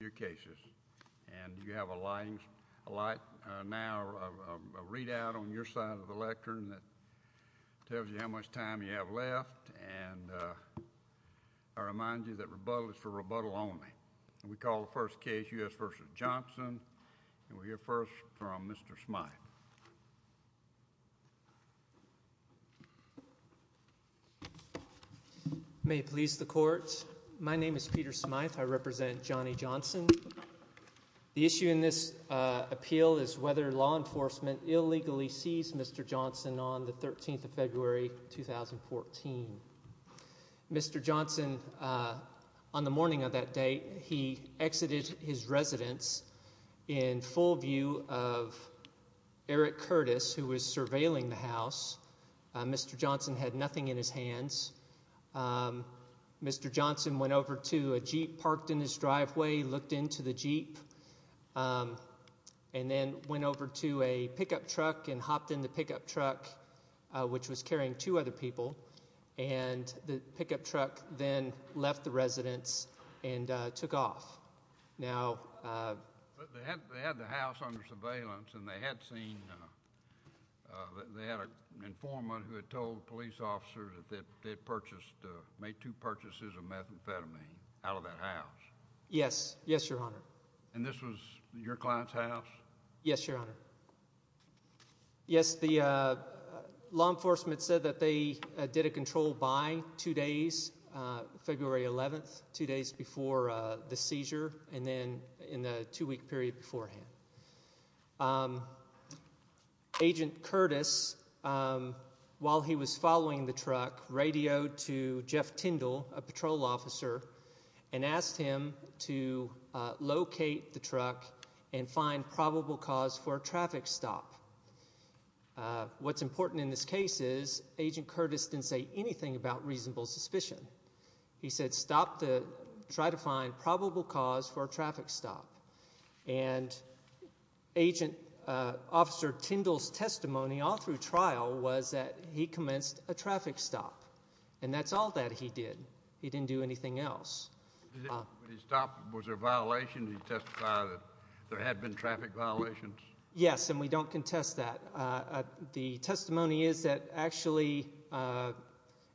your cases and you have a line like now read out on your side of the lectern that tells you how much time you have left and I remind you that rebuttal is for rebuttal only. We call the first case U.S. v. Johnson and we'll hear first from Mr. Smythe. May it please the court my name is Peter Smythe I represent Johnny Johnson. The issue in this appeal is whether law enforcement illegally seized Mr. Johnson on the 13th of February 2014. Mr. Johnson on the morning of that date he exited his residence in full view of Eric Curtis who was surveilling the house. Mr. Johnson had nothing in his hands. Mr. Johnson went over to a jeep parked in his driveway looked into the jeep and then went over to a pickup truck and hopped in the pickup truck which was carrying two other people and the pickup truck then left the residence and took off. Now they had the house under surveillance and they had seen they had an informant who had told police officers that they purchased made two purchases of methamphetamine out of that house. Yes yes your honor. And this was your client's house? Yes your honor. Yes the law enforcement said that they did a control by two days February 11th two days before the seizure and then in the two-week period beforehand. Agent Curtis while he was following the truck radioed to Jeff Tyndall a patrol officer and asked him to locate the truck and find probable cause for traffic stop. What's important in this case is agent Curtis didn't say anything about reasonable suspicion. He said stop to try to find probable cause for traffic stop and agent officer Tyndall's testimony all through trial was that he commenced a traffic stop and that's all that he did. He didn't do anything else. Was there a violation? Did he testify that there had been traffic violations? Yes and we don't contest that. The testimony is that actually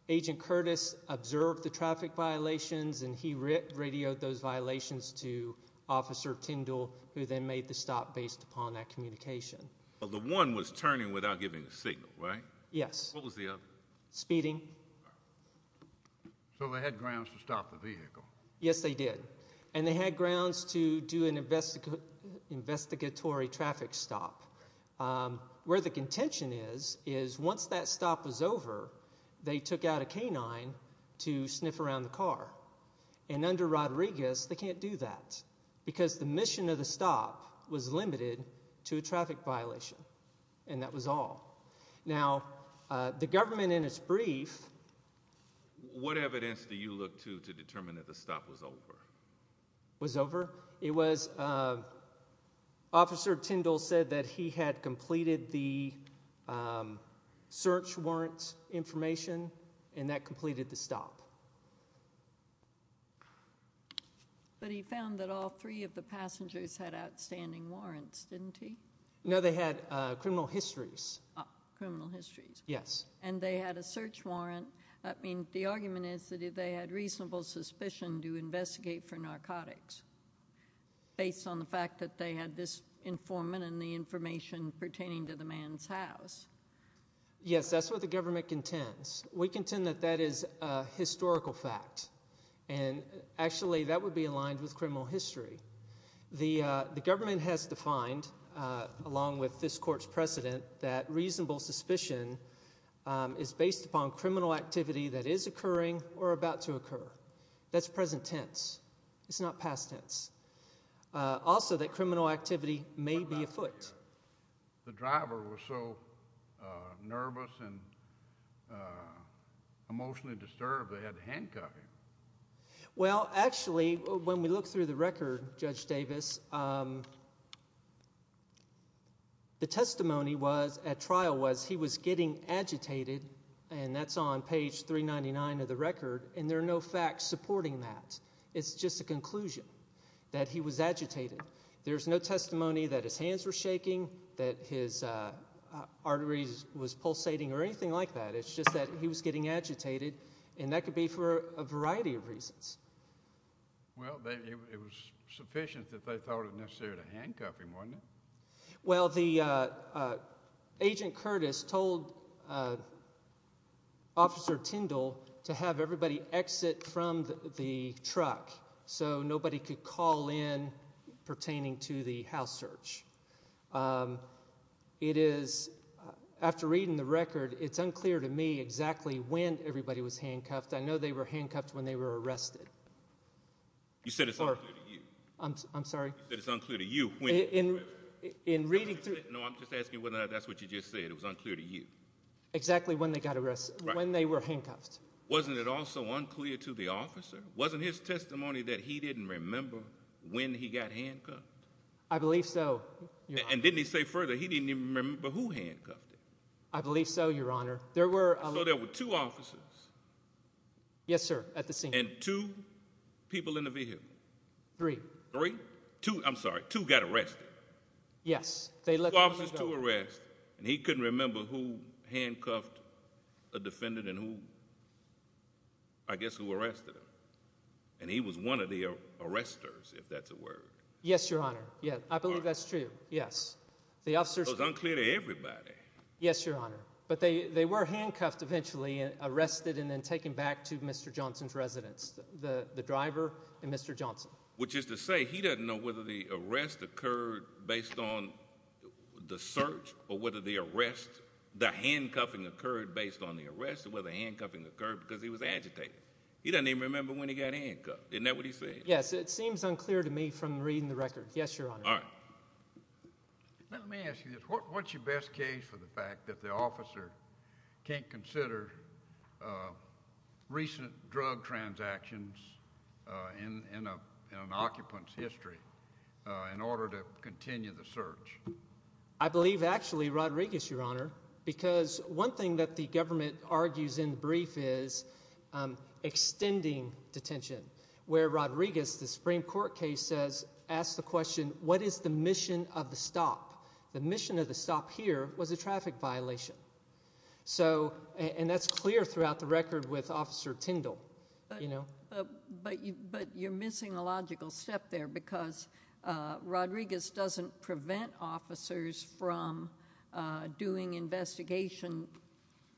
agent Curtis observed the traffic violations and he radioed those violations to officer Tyndall who then made the stop based upon that communication. But the one was turning without giving a signal right? Yes. What was the other? Speeding. So they had grounds to stop the vehicle? Yes they did and they had grounds to do an investigatory traffic stop. Where the contention is is once that stop was over they took out a canine to sniff around the car and under Rodriguez they can't do that because the mission of the stop was limited to a traffic violation and that was all. Now the government in its brief. What evidence do you look to to determine that the stop was over? It was officer Tyndall said that he had completed the search warrants information and that completed the stop. But he found that all three of the passengers had outstanding warrants didn't he? No they had criminal histories. Criminal histories. Yes. And they had a search warrant. I mean the argument is that if they had reasonable suspicion to investigate for narcotics based on the fact that they had this informant and the information pertaining to the man's house. Yes that's what the government contends. We contend that that is a historical fact and actually that would be aligned with criminal history. The government has defined along with this court's precedent that reasonable suspicion is based upon criminal activity that is occurring or about to occur. That's present tense. It's not past tense. Also that criminal activity may be afoot. The driver was so nervous and emotionally disturbed they had to handcuff him. Well actually when we look through the record Judge Davis the testimony was at trial was he was getting agitated and that's on page 399 of the record and there are no facts supporting that. It's just a conclusion that he was agitated. There's no testimony that his hands were shaking, that his arteries was pulsating or anything like that. It's just that he was getting agitated and that could be for a variety of reasons. Well it was sufficient that they thought it necessary to handcuff him wasn't it? Well the agent Curtis told Officer Tindall to have everybody exit from the truck so nobody could call in pertaining to the house search. It is, after reading the record, it's unclear to me exactly when everybody was handcuffed. I know they were handcuffed when they were arrested. You said it's unclear to you. I'm sorry? You said it's unclear to you. No I'm just asking whether that's what you just said. It was unclear to you. Exactly when they got arrested, when they were handcuffed. Wasn't it also unclear to the officer? Wasn't his testimony that he didn't remember when he got handcuffed? I believe so. And didn't he say further he didn't even remember who handcuffed him? I believe so your honor. So there were two officers? Yes sir, at the scene. And two people in the vehicle? Three. Three? Two, I'm sorry, two got arrested? Yes. Two officers, two arrested and he couldn't remember who handcuffed a defendant and who, I guess, who arrested him. And he was one of the arresters if that's a word. Yes your honor, yeah, I believe that's true, yes. It was unclear to everybody. Yes your honor, but they they were handcuffed eventually and arrested and then taken back to Mr. Johnson's residence, the the driver and Mr. Johnson. Which is to say he doesn't know whether the arrest occurred based on the search or whether the arrest, the handcuffing occurred based on the arrest, whether the handcuffing occurred because he was agitated. He doesn't even remember when he got handcuffed. Isn't that what he said? Yes, it seems unclear to me from reading the record. Yes your honor. All right, let me ask you this. What's your best case for the fact that the officer can't consider recent drug transactions in an occupant's history in order to continue the search? I believe actually Rodriguez, your honor, because one thing that the government argues in the brief is extending detention, where Rodriguez, the Supreme Court case asks the question, what is the mission of the stop? The mission of the stop here was a traffic violation. So and that's clear throughout the record with Officer Tindall, you know. But you're missing a logical step there because Rodriguez doesn't prevent officers from doing investigation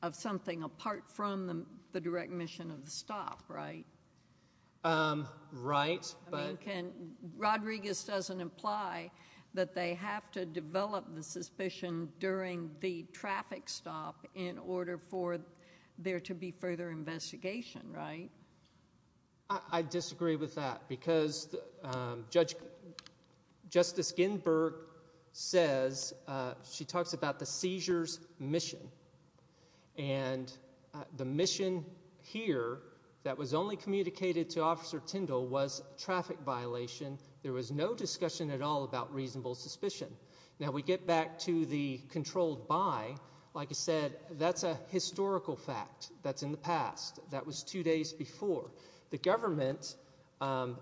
of something apart from the direct mission of the stop, right? Right. I mean can, Rodriguez doesn't imply that they have to develop the suspicion during the traffic stop in order for there to be further investigation, right? I disagree with that because Judge, Justice Ginsburg says, she talks about the seizure's mission and the mission here that was only communicated to Officer Tindall was traffic violation. There was no discussion at all about reasonable suspicion. Now we get back to the controlled by. Like I said, that's a historical fact that's in the past. That was two days before. The government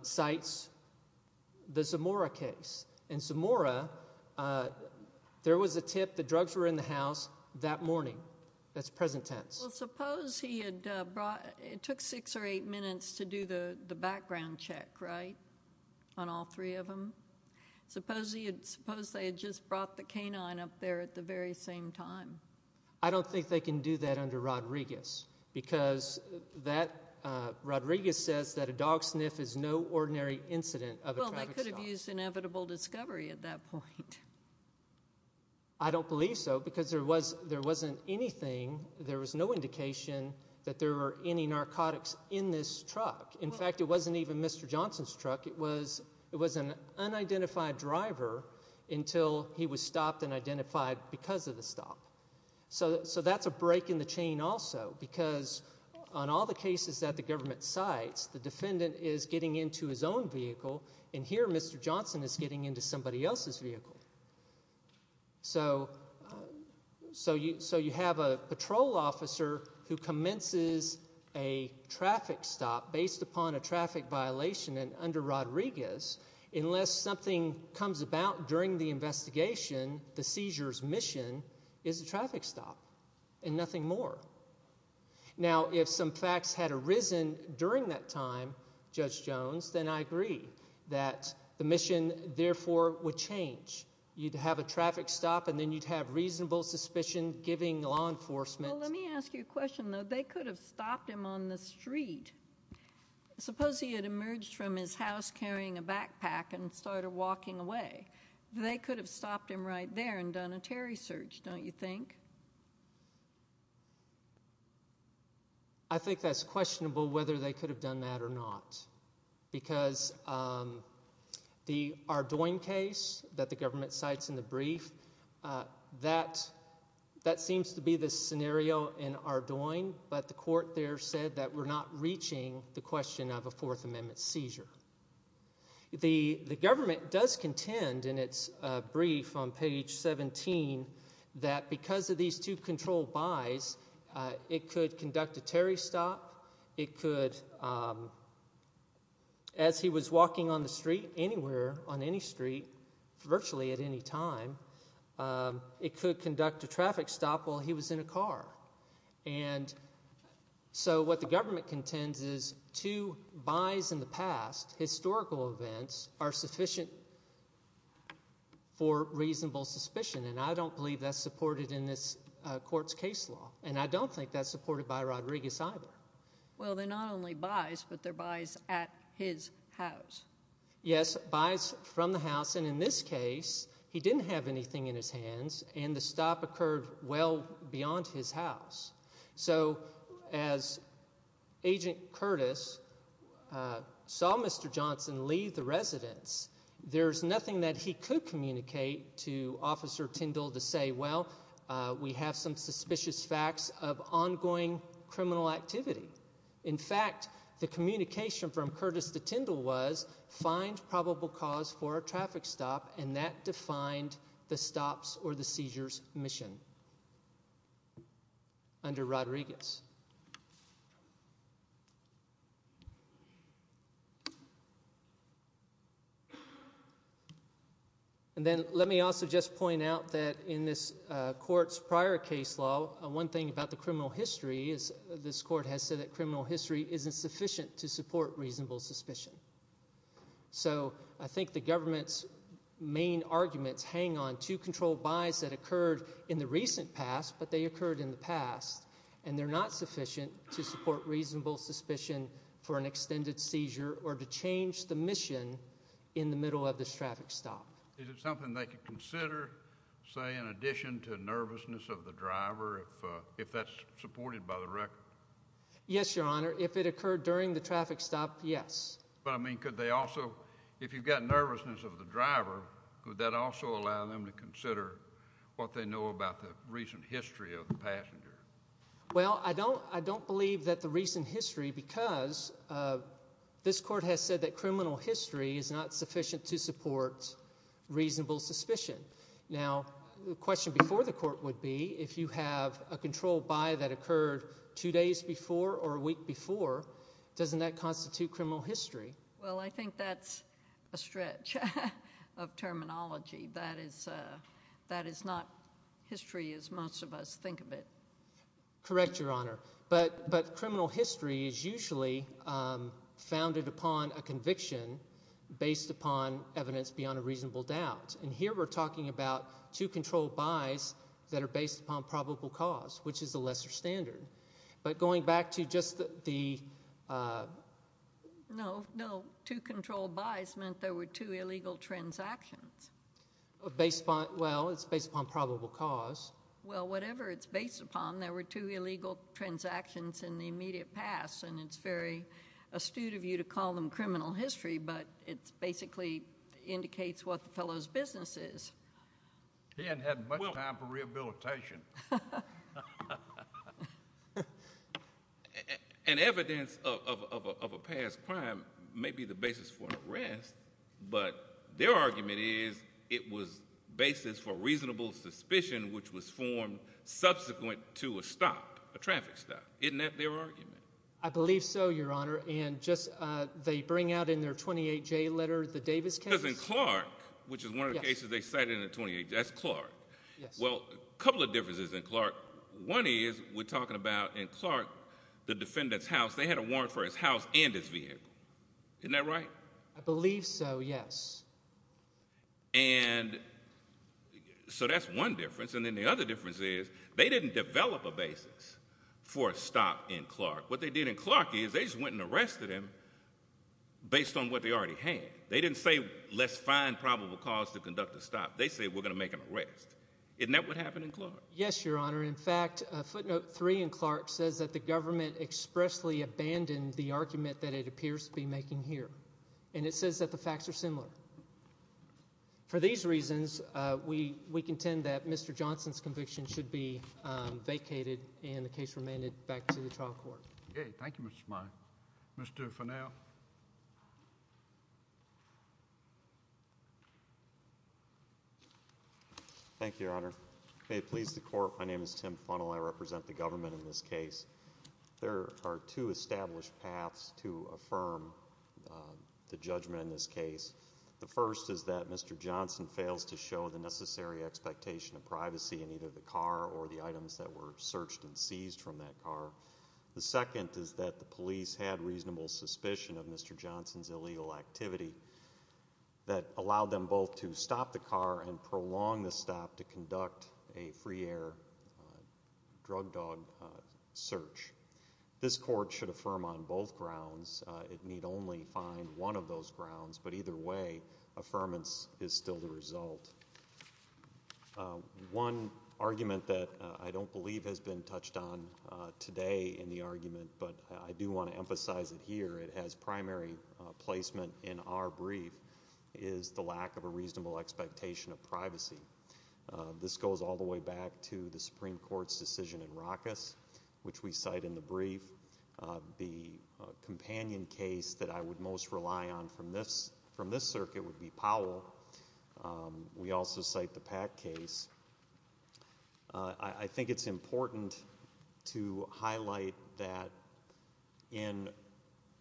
cites the Zamora case. In Zamora, there was a tip the drugs were in the house that morning. That's present tense. Well suppose he had brought, it took six or eight minutes to do the the background check, right? On all three of them. Suppose he had, suppose they had just brought the canine up there at the very same time. I don't think they can do that under Rodriguez because that, Rodriguez says that a dog sniff is no ordinary incident of a traffic stop. Well they could have used inevitable discovery at that point. I don't believe so because there was, there wasn't anything, there was no indication that there were any narcotics in this truck. In fact, it wasn't even Mr. Johnson's truck. It was, it was an unidentified driver until he was stopped and identified because of the stop. So, so that's a break in the chain also because on all the cases that the government cites, the defendant is getting into his own vehicle and here Mr. Johnson is getting into somebody else's vehicle. So, so you, so you have a patrol officer who commences a traffic stop based upon a traffic violation and under Rodriguez, unless something comes about during the investigation, the seizure's a traffic stop and nothing more. Now if some facts had arisen during that time, Judge Jones, then I agree that the mission therefore would change. You'd have a traffic stop and then you'd have reasonable suspicion giving law enforcement. Well let me ask you a question though. They could have stopped him on the street. Suppose he had emerged from his house carrying a backpack and started walking away. They could have stopped him right there and done a Terry search, don't you think? I think that's questionable whether they could have done that or not because the Ardoin case that the government cites in the brief, that, that seems to be the scenario in Ardoin, but the court there said that we're not reaching the question of a Fourth Amendment seizure. The, the government does contend in its brief on page 17 that because of these two controlled buys, it could conduct a Terry stop. It could, as he was walking on the street, anywhere on any street, virtually at any time, it could conduct a traffic stop while he was in a car. And so what the government contends is two buys in the past, historical events, are sufficient for reasonable suspicion and I don't believe that's supported in this court's case law and I don't think that's supported by Rodriguez either. Well they're not only buys but they're buys at his house. Yes, buys from the house and in this case he didn't have anything in his hands and the stop occurred well beyond his house. So as Agent Curtis saw Mr. Johnson leave the residence, there's nothing that he could communicate to Officer Tindall to say, well, we have some suspicious facts of ongoing criminal activity. In fact, the communication from Curtis to Tindall was find probable cause for a traffic stop and that defined the stops or the seizures mission under Rodriguez. And then let me also just point out that in this court's prior case law, one thing about the criminal history is this court has said that criminal history isn't sufficient to support arguments, hang on, two control buys that occurred in the recent past but they occurred in the past and they're not sufficient to support reasonable suspicion for an extended seizure or to change the mission in the middle of this traffic stop. Is it something they could consider, say, in addition to nervousness of the driver if that's supported by the record? Yes, Your Honor. If it occurred during the traffic stop, yes. But I mean, could they also, if you've got nervousness of the driver, could that also allow them to consider what they know about the recent history of the passenger? Well, I don't believe that the recent history because this court has said that criminal history is not sufficient to support reasonable suspicion. Now, the question before the court would be if you have a control buy that occurred two days before or a week before, doesn't that Well, I think that's a stretch of terminology. That is not history as most of us think of it. Correct, Your Honor. But criminal history is usually founded upon a conviction based upon evidence beyond a reasonable doubt. And here we're talking about two control buys that are based upon probable cause, which is a lesser standard. But going back to just the No, no. Two control buys meant there were two illegal transactions. Well, it's based upon probable cause. Well, whatever it's based upon, there were two illegal transactions in the immediate past. And it's very astute of you to call them criminal history, but it basically indicates what the fellow's business is. He hadn't had much time for rehabilitation. And evidence of a past crime may be the basis for an arrest, but their argument is it was basis for reasonable suspicion, which was formed subsequent to a stop, a traffic stop. Isn't that their argument? I believe so, Your Honor. And just they bring out in their 28-J letter, the Davis case. Because in Clark, which is one of the cases they cited in the 28-J, that's Clark. Well, a couple of differences in Clark. One is we're talking about in Clark, the defendant's house, they had a warrant for his house and his vehicle. Isn't that right? I believe so, yes. And so that's one difference. And then the other difference is they didn't develop a basis for a stop in Clark. What they did in Clark is they just went and arrested him based on what they already had. They didn't say, let's find probable cause to conduct a stop. They said, we're going to make an arrest. Isn't that what happened in Clark? Yes, Your Honor. In fact, footnote three in Clark says that the government expressly abandoned the argument that it appears to be making here. And it says that the facts are similar. For these reasons, we contend that Mr. Johnson's conviction should be vacated and the case remanded back to the trial court. Okay. Thank you, Mr. Smiley. Mr. Fennell. Thank you, Your Honor. May it please the court, my name is Tim Fennell. I represent the government in this case. There are two established paths to affirm the judgment in this case. The first is that Mr. Johnson fails to show the necessary expectation of privacy in either the car or the items that were searched and seized from that car. The second is that the police had reasonable suspicion of Mr. Johnson's illegal activity that allowed them both to stop the car and prolong the stop to conduct a free air drug dog search. This court should affirm on both grounds. It need only find one of those grounds, but either way, affirmance is still the result. One argument that I don't believe has been touched on today in the argument, but I do want to emphasize it here, it has primary placement in our brief, is the lack of a reasonable expectation of privacy. This goes all the way back to the Supreme Court's decision in Ruckus, which we cite in the brief. The companion case that I would most rely on from this circuit would be Powell. We also cite the Pack case. I think it's important to highlight that in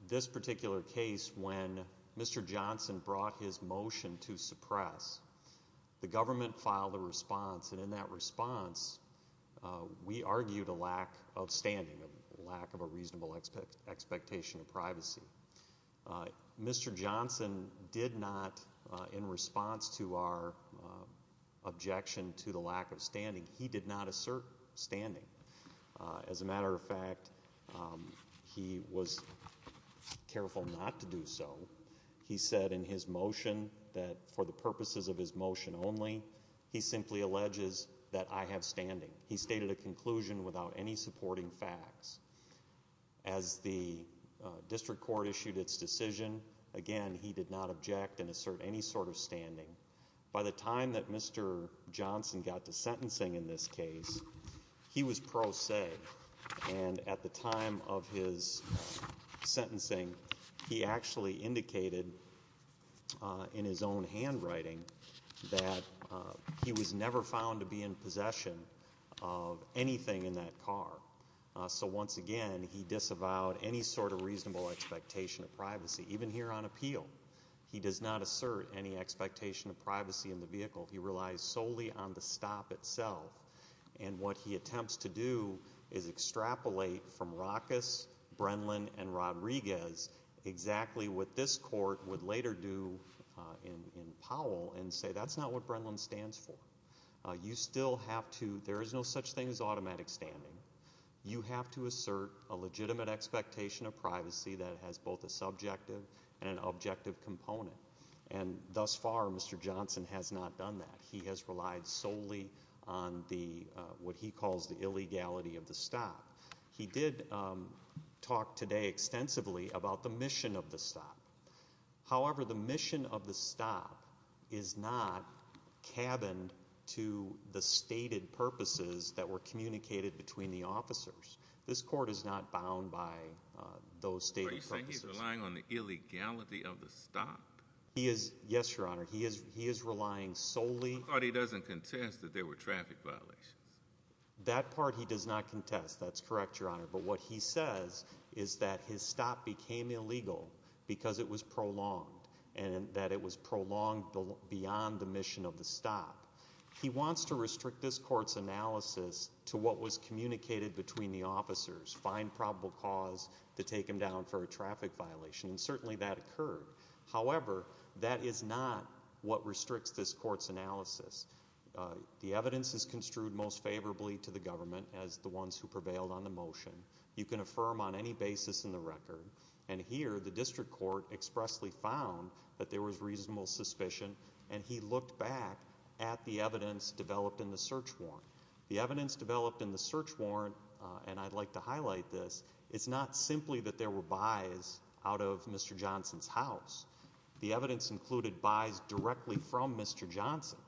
this particular case when Mr. Johnson brought his motion to suppress, the government filed a response and in that response we argued a lack of standing, a lack of a reasonable expectation of privacy. Mr. Johnson did not, in response to our objection to the lack of standing, he did not assert standing. As a matter of fact, he was careful not to do so. He said in his motion that for the purposes of his motion only, he simply alleges that I have standing. He stated a conclusion without any supporting facts. As the district court issued its decision, again, he did not object and assert any sort of standing. By the time that Mr. Johnson got to sentencing in this case, he was pro se and at the time of his sentencing, he actually indicated in his own handwriting that he was never found to be in possession of anything in that car. So once again, he disavowed any sort of reasonable expectation of privacy. Even here on appeal, he does not assert any expectation of privacy in the vehicle. He relies solely on the stop itself and what he attempts to do is extrapolate from Ruckus, Brenlin, and Rodriguez exactly what this is. That's not what Brenlin stands for. There is no such thing as automatic standing. You have to assert a legitimate expectation of privacy that has both a subjective and an objective component. Thus far, Mr. Johnson has not done that. He has relied solely on what he calls the illegality of the stop. He did talk today extensively about the mission of the stop. However, the mission of the stop is not cabined to the stated purposes that were communicated between the officers. This court is not bound by those stated purposes. Are you saying he's relying on the illegality of the stop? Yes, Your Honor. He is relying solely... The part he doesn't contest that there were traffic violations. That part he does not contest. That's correct, Your Honor. But what he says is that his stop became illegal because it was prolonged and that it was prolonged beyond the mission of the stop. He wants to restrict this court's analysis to what was communicated between the officers, find probable cause to take him down for a traffic violation, and certainly that occurred. However, that is not what restricts this court's analysis. The evidence is construed most in the record, and here the district court expressly found that there was reasonable suspicion, and he looked back at the evidence developed in the search warrant. The evidence developed in the search warrant, and I'd like to highlight this, it's not simply that there were buys out of Mr. Johnson's house. The evidence included buys directly from Mr. Johnson.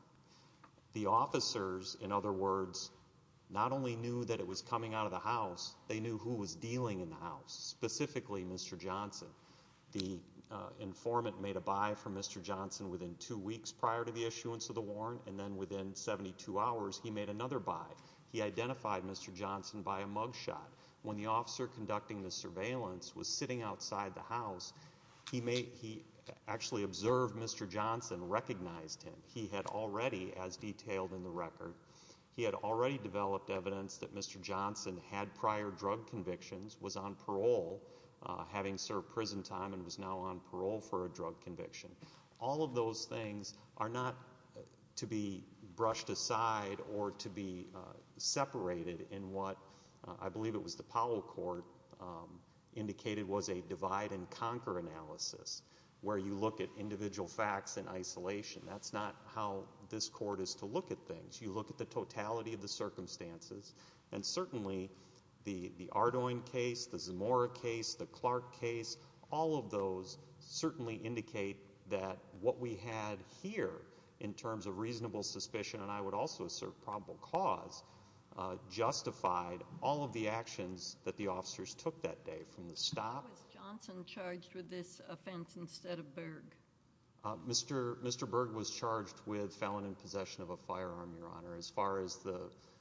The officers, in other words, not only knew that it was coming out of the house, they knew who was dealing in the house, specifically Mr. Johnson. The informant made a buy from Mr. Johnson within two weeks prior to the issuance of the warrant, and then within 72 hours he made another buy. He identified Mr. Johnson by a mugshot. When the officer conducting the surveillance was sitting outside the house, he actually observed Mr. Johnson, recognized him. He had already, as detailed in the record, he had already developed evidence that Mr. Johnson had prior drug convictions, was on parole, having served prison time, and was now on parole for a drug conviction. All of those things are not to be brushed aside or to be separated in what I believe it was the Powell Court indicated was a divide and conquer analysis, where you look at individual facts in isolation. That's not how this court is to look at things. You look at the Ardoin case, the Zamora case, the Clark case. All of those certainly indicate that what we had here in terms of reasonable suspicion, and I would also assert probable cause, justified all of the actions that the officers took that day from the stop. Was Johnson charged with this offense instead of Berg? Mr. Berg was charged with felon in possession of a firearm, Your Honor. As far as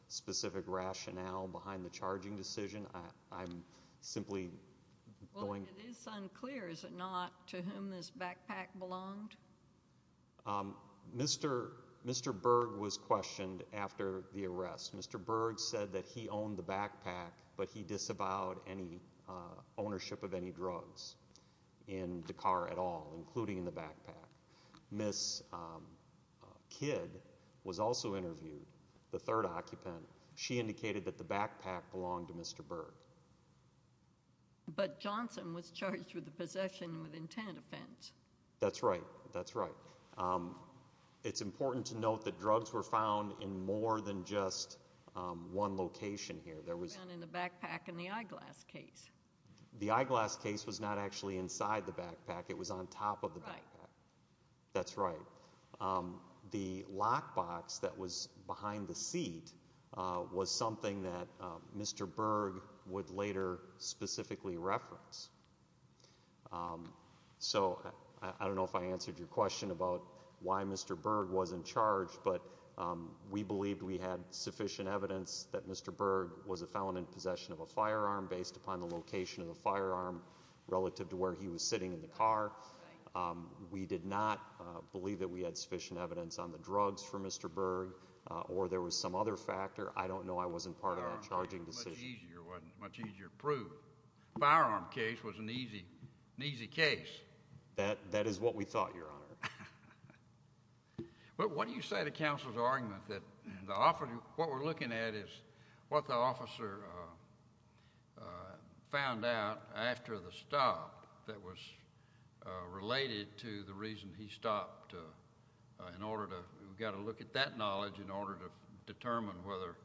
specific rationale behind the charging decision, I'm simply going... Well, it is unclear, is it not, to whom this backpack belonged? Mr. Berg was questioned after the arrest. Mr. Berg said that he owned the backpack, but he disavowed any ownership of any drugs in Dakar at all, including the backpack. Miss Kidd was also interviewed, the third occupant. She indicated that the backpack belonged to Mr. Berg. But Johnson was charged with a possession with intent offense. That's right. That's right. It's important to note that drugs were found in more than just one location here. They were found in the backpack in the eyeglass case. The eyeglass case was not actually inside the backpack. It was on top of the backpack. Right. That's right. The lockbox that was behind the seat was something that Mr. Berg would later specifically reference. So I don't know if I answered your question about why Mr. Berg wasn't charged, but we believed we had sufficient evidence that Mr. Berg was a felon in possession of a firearm based upon the location of the firearm relative to where he was sitting in the car. We did not believe that we had sufficient evidence on the drugs for Mr. Berg, or there was some other factor. I don't know. I wasn't part of that charging decision. It wasn't much easier to prove. The firearm case was an easy case. That is what we thought, Your Honor. What do you say to counsel's argument that what we're looking at is what the officer found out after the stop that was related to the reason he stopped? In order to, we've got to look at that knowledge in order to determine whether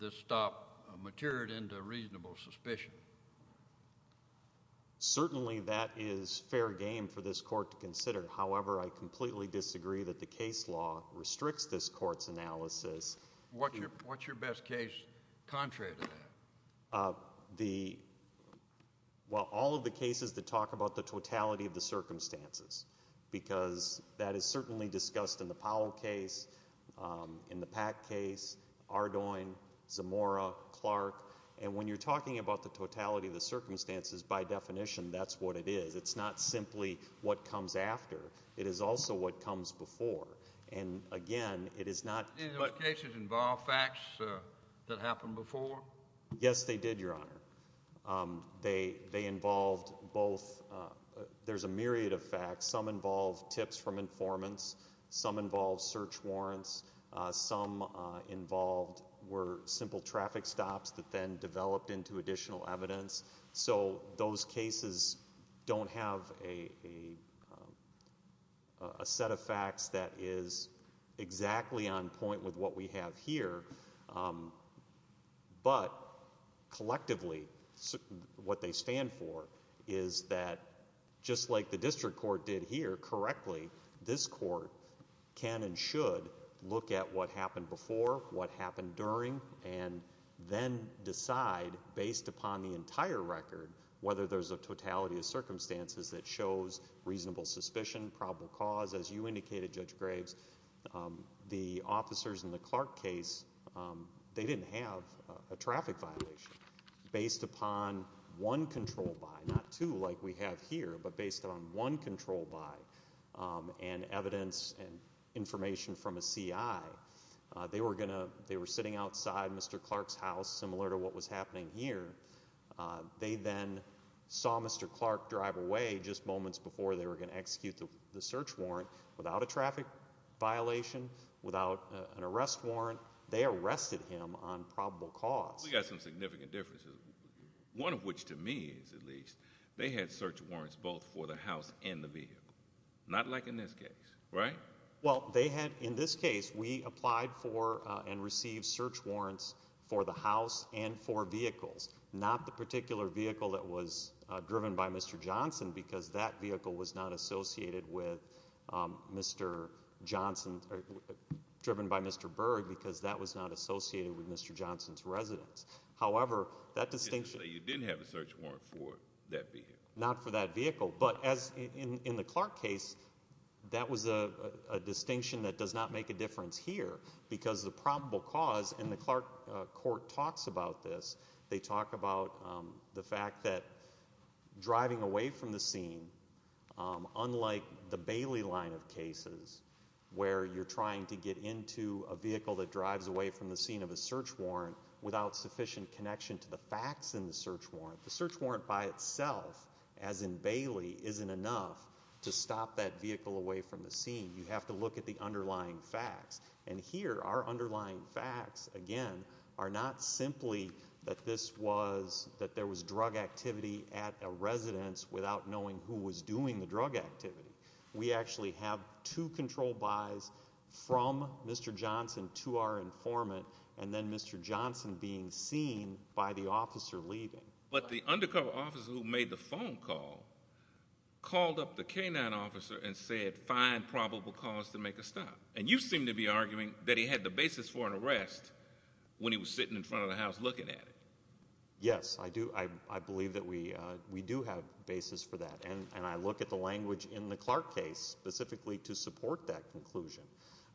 this stop matured into reasonable suspicion. Certainly that is fair game for this court to consider. However, I completely disagree that case law restricts this court's analysis. What's your best case contrary to that? Well, all of the cases that talk about the totality of the circumstances, because that is certainly discussed in the Powell case, in the Pack case, Ardoin, Zamora, Clark, and when you're talking about the totality of the circumstances, by definition, that's what it is. It's not simply what comes after. It is also what comes before. And again, it is not... Did any of those cases involve facts that happened before? Yes, they did, Your Honor. They involved both, there's a myriad of facts. Some involved tips from informants. Some involved search warrants. Some involved were simple traffic stops that then developed into additional evidence. So those cases don't have a set of facts that is exactly on point with what we have here. But collectively, what they stand for is that just like the district court did here correctly, this court can and should look at what happened before, what happened during, and then decide, based upon the entire record, whether there's a totality of circumstances that shows reasonable suspicion, probable cause. As you indicated, Judge Graves, the officers in the Clark case, they didn't have a traffic violation. Based upon one control by, not two like we have here, but based on one control by, and evidence and information from a CI, they were sitting outside Mr. Clark's house, similar to what was happening here. They then saw Mr. Clark drive away just moments before they were going to execute the search warrant without a traffic violation, without an arrest warrant. They arrested him on probable cause. We got some significant differences. One of which, to me, is at least, they had search warrants both for the house and the vehicle. Not like in this case. Right? Well, they had, in this case, we applied for and received search warrants for the house and for vehicles. Not the particular vehicle that was driven by Mr. Johnson, because that vehicle was not associated with Mr. Johnson, driven by Mr. Berg, because that was not associated with Mr. Johnson's residence. However, that distinction... Not for that vehicle. But as in the Clark case, that was a distinction that does not make a difference here, because the probable cause, and the Clark court talks about this, they talk about the fact that driving away from the scene, unlike the Bailey line of cases, where you're trying to get into a vehicle that drives away from the scene of a search warrant without sufficient connection to the facts in the search warrant, the search warrant by itself, as in Bailey, isn't enough to stop that vehicle away from the scene. You have to look at the underlying facts. And here, our underlying facts, again, are not simply that this was, that there was drug activity at a residence without knowing who was doing the drug activity. We actually have two control buys from Mr. Johnson to our informant, and then Mr. Johnson being seen by the officer leaving. But the undercover officer who made the phone call called up the K-9 officer and said, find probable cause to make a stop. And you seem to be arguing that he had the basis for an arrest when he was sitting in front of the house looking at it. Yes, I do. I believe that we do have basis for that. And I look at the language in the Clark case specifically to support that conclusion.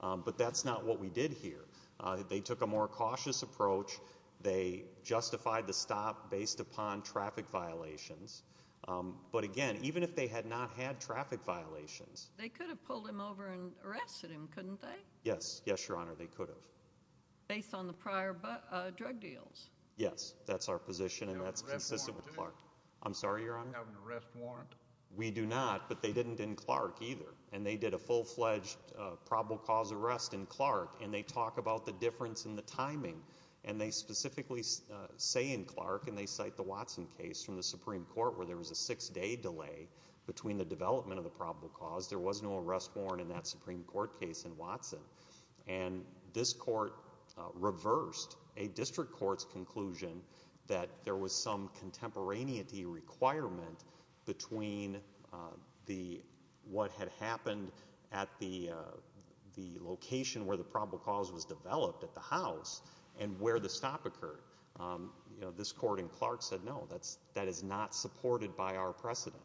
But that's not what we did here. They took a more cautious approach. They justified the stop based upon traffic violations. But again, even if they had not had traffic violations. They could have pulled him over and arrested him, couldn't they? Yes, yes, Your Honor, they could have. Based on the prior drug deals? Yes, that's our position, and that's consistent with Clark. I'm sorry, Your Honor? Do you have an arrest warrant? We do not, but they didn't in Clark either. And they did a full-fledged probable cause arrest in Clark, and they talk about the difference in the timing. And they specifically say in Clark, and they cite the Watson case from the Supreme Court, where there was a six-day delay between the development of the probable cause. There was no arrest warrant in that Supreme Court case in Watson. And this court reversed a district court's conclusion that there was some contemporaneity requirement between what had happened at the location where the probable cause was developed at the house and where the stop occurred. This court in Clark said no, that is not supported by our precedent.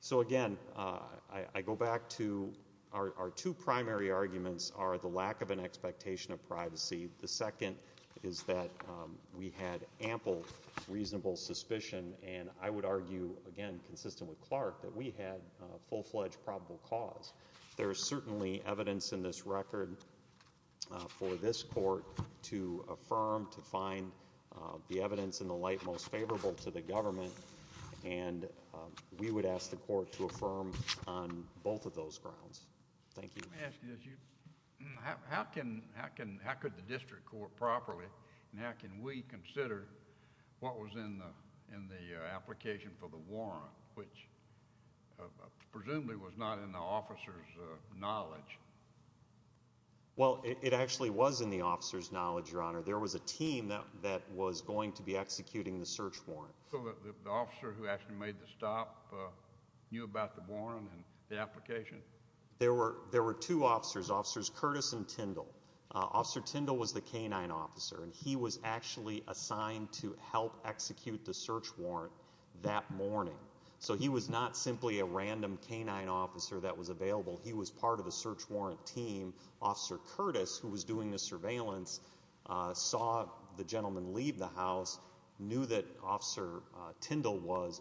So again, I go back to our two primary arguments are the lack of an expectation of privacy, the second is that we had ample reasonable suspicion, and I would argue, again, consistent with Clark, that we had a full-fledged probable cause. There is certainly evidence in this record for this court to affirm, to find the evidence in the light most favorable to the government, and we would ask the court to affirm on both of those grounds. Thank you. Let me ask you this. How could the district court properly, and how can we consider what was in the application for the warrant, which presumably was not in the officer's knowledge? Well, it actually was in the officer's knowledge, Your Honor. There was a team that was going to be executing the search warrant. So the officer who actually made the stop knew about the warrant and the application? There were two officers, Officers Curtis and Tyndall. Officer Tyndall was the canine officer, and he was actually assigned to help execute the search warrant that morning. So he was not simply a random canine officer that was available. He was part of the search warrant team. Officer Curtis, who was doing the surveillance, saw the gentleman leave the house, knew that Officer Tyndall was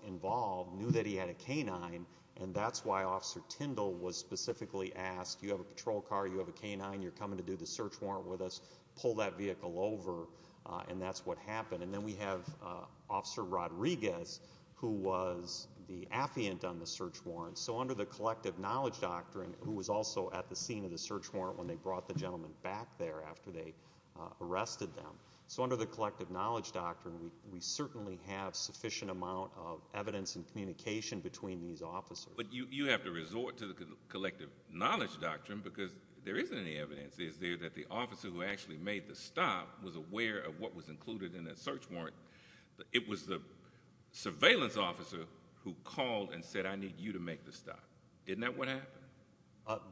specifically asked, you have a patrol car, you have a canine, you're coming to do the search warrant with us, pull that vehicle over, and that's what happened. And then we have Officer Rodriguez, who was the affiant on the search warrant. So under the collective knowledge doctrine, who was also at the scene of the search warrant when they brought the gentleman back there after they arrested them. So under the collective knowledge doctrine, we certainly have sufficient amount of evidence and communication between these officers. But you have to resort to the collective knowledge doctrine because there isn't any evidence. Is there that the officer who actually made the stop was aware of what was included in that search warrant? It was the surveillance officer who called and said, I need you to make the stop. Isn't that what happened?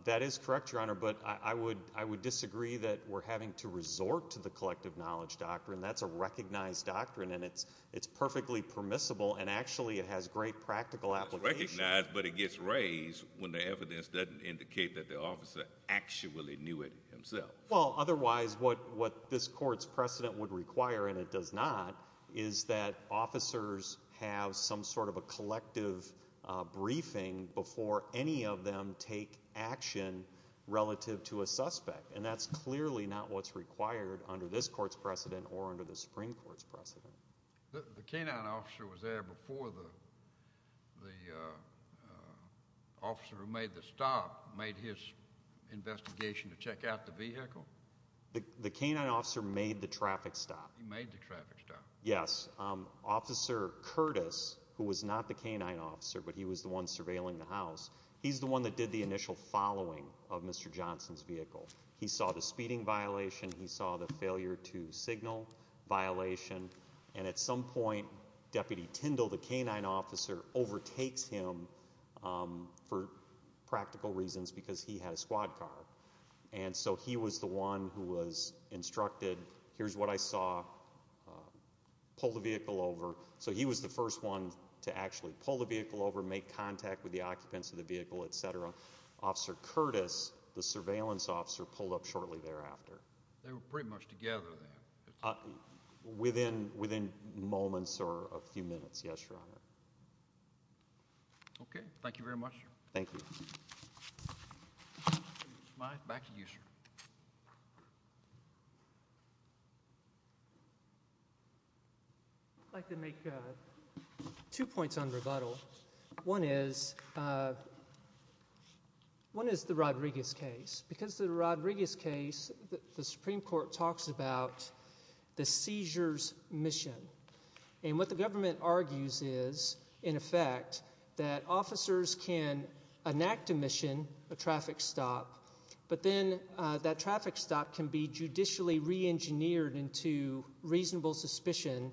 That is correct, Your Honor, but I would disagree that we're having to resort to the collective knowledge doctrine. That's a recognized doctrine, and it's perfectly permissible, and actually it has great practical application. It's recognized, but it gets raised when the evidence doesn't indicate that the officer actually knew it himself. Well, otherwise what this court's precedent would require, and it does not, is that officers have some sort of a collective briefing before any of them take action relative to a suspect. And that's clearly not what's required under this court's precedent or under the Supreme Court's precedent. The canine officer was there before the officer who made the stop made his investigation to check out the vehicle? The canine officer made the traffic stop. He made the traffic stop. Yes. Officer Curtis, who was not the canine officer, but he was the one surveilling the house, he's the one that did the initial following of Mr. Johnson's vehicle. He saw the speeding violation. He saw the failure to signal violation. And at some point, Deputy Tindall, the canine officer, overtakes him for practical reasons because he had a squad car. And so he was the one who was instructed, here's what I saw. Pull the vehicle over. So he was the first one to actually pull the vehicle over, make contact with the occupants of the vehicle, etc. Officer Curtis, the surveillance officer, pulled up shortly thereafter. They were pretty much together then. Within moments or a few minutes. Yes, Your Honor. Okay. Thank you very much, sir. Thank you. Back to you, sir. I'd like to make two points on rebuttal. One is, one is the Rodriguez case. Because the Rodriguez case, the Supreme Court talks about the seizure's mission. And what the government argues is, in effect, that officers can enact a traffic stop. But then that traffic stop can be judicially reengineered into reasonable suspicion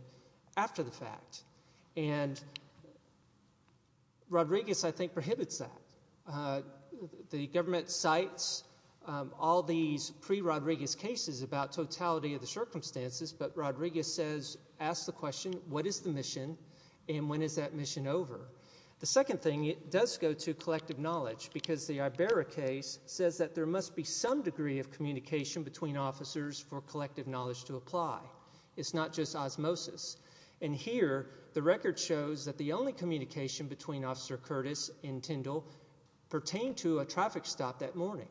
after the fact. And Rodriguez, I think, prohibits that. The government cites all these pre-Rodriguez cases about totality of the circumstances. But Rodriguez says, asks the question, what is the Iberra case, says that there must be some degree of communication between officers for collective knowledge to apply. It's not just osmosis. And here, the record shows that the only communication between Officer Curtis and Tyndall pertained to a traffic stop that morning.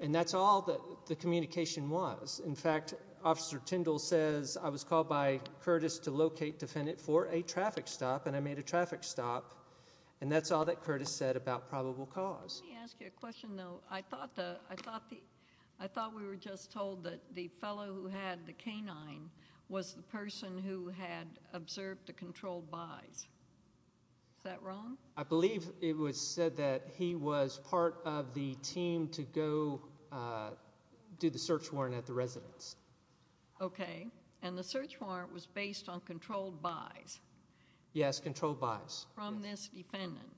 And that's all that the communication was. In fact, Officer Tyndall says, I was called by Curtis to locate defendant for a traffic stop, and I made a traffic stop. And that's all that Curtis said about probable cause. Let me ask you a question, though. I thought we were just told that the fellow who had the canine was the person who had observed the controlled buys. Is that wrong? I believe it was said that he was part of the team to go do the search warrant at the residence. Okay. And the search warrant was based on controlled buys. Yes, controlled buys. From this defendant.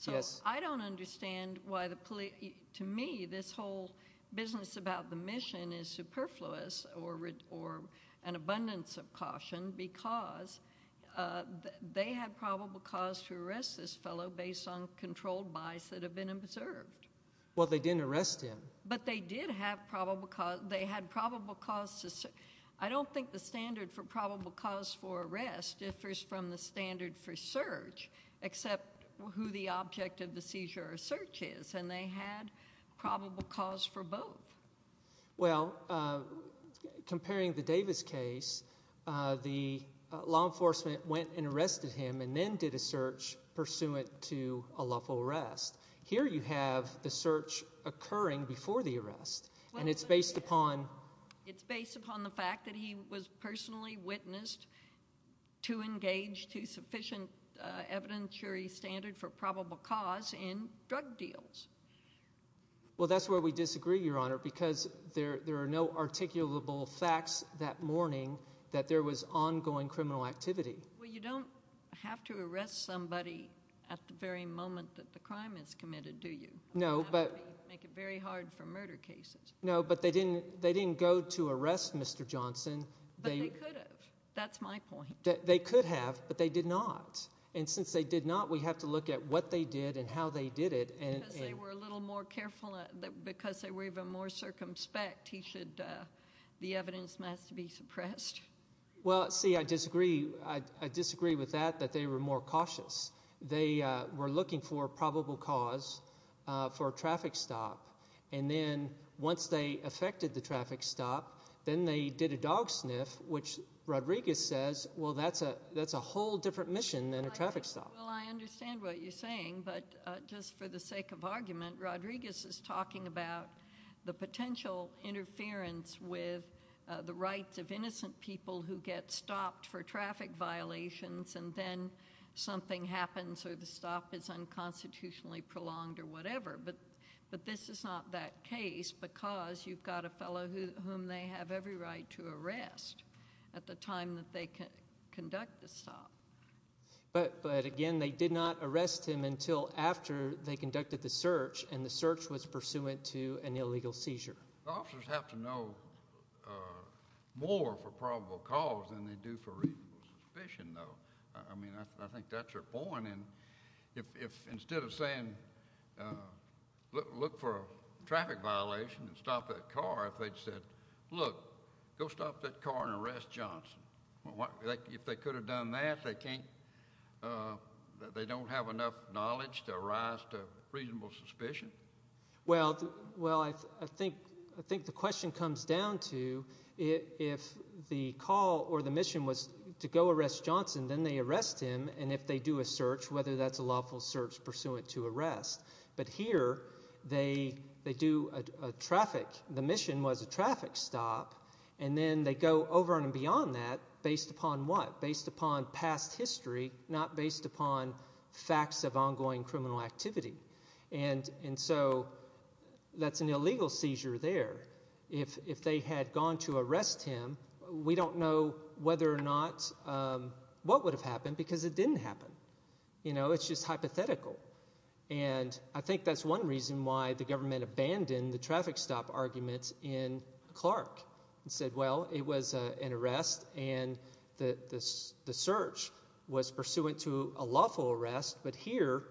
So, I don't understand why the police, to me, this whole business about the mission is superfluous or an abundance of caution because they had probable cause to arrest this fellow based on controlled buys that have been observed. Well, they didn't arrest him. But they did have probable cause. They had probable cause. I don't think the standard for probable cause for arrest differs from the standard for search, except who the object of the seizure or search is. And they had probable cause for both. Well, comparing the Davis case, the law enforcement went and arrested him and then did a search pursuant to a lawful arrest. Here you have the search occurring before the It's based upon the fact that he was personally witnessed to engage to sufficient evidentiary standard for probable cause in drug deals. Well, that's where we disagree, Your Honor, because there are no articulable facts that morning that there was ongoing criminal activity. Well, you don't have to arrest somebody at the very moment that the crime is They didn't go to arrest Mr. Johnson. But they could have. That's my point. They could have, but they did not. And since they did not, we have to look at what they did and how they did it. And because they were a little more careful, because they were even more circumspect, the evidence must be suppressed. Well, see, I disagree. I disagree with that, that they were more cautious. They were looking for probable cause for a traffic stop. And then once they affected the traffic stop, then they did a dog sniff, which Rodriguez says, well, that's a that's a whole different mission than a traffic stop. Well, I understand what you're saying. But just for the sake of argument, Rodriguez is talking about the potential interference with the rights of innocent people who get stopped for traffic violations and then something happens or the stop is unconstitutionally prolonged or whatever. But this is not that case because you've got a fellow whom they have every right to arrest at the time that they conduct the stop. But again, they did not arrest him until after they conducted the search and the search was pursuant to an illegal seizure. Officers have to know more for probable cause than they do for reasonable suspicion, though. I mean, I think that's your point. And if instead of saying, look for a traffic violation and stop that car, if they'd said, look, go stop that car and arrest Johnson, what if they could have done that? They can't. They don't have enough knowledge to rise to reasonable suspicion. Well, well, I think I think the question comes down to if the call or the mission was to go arrest Johnson, then they arrest him and if they do a search, whether that's a lawful search pursuant to arrest. But here they do a traffic, the mission was a traffic stop, and then they go over and beyond that based upon what? Based upon past history, not based upon facts of ongoing criminal activity. And so that's an illegal seizure there. If they had gone to arrest him, we don't know whether or what would have happened because it didn't happen. You know, it's just hypothetical. And I think that's one reason why the government abandoned the traffic stop arguments in Clark and said, well, it was an arrest and the search was pursuant to a lawful arrest. But here,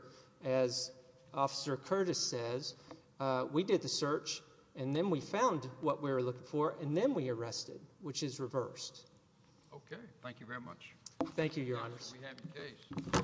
as Officer Curtis says, we did the search and then we found what we were looking for and then we arrested, which is reversed. OK, thank you very much. Thank you, Your Honor.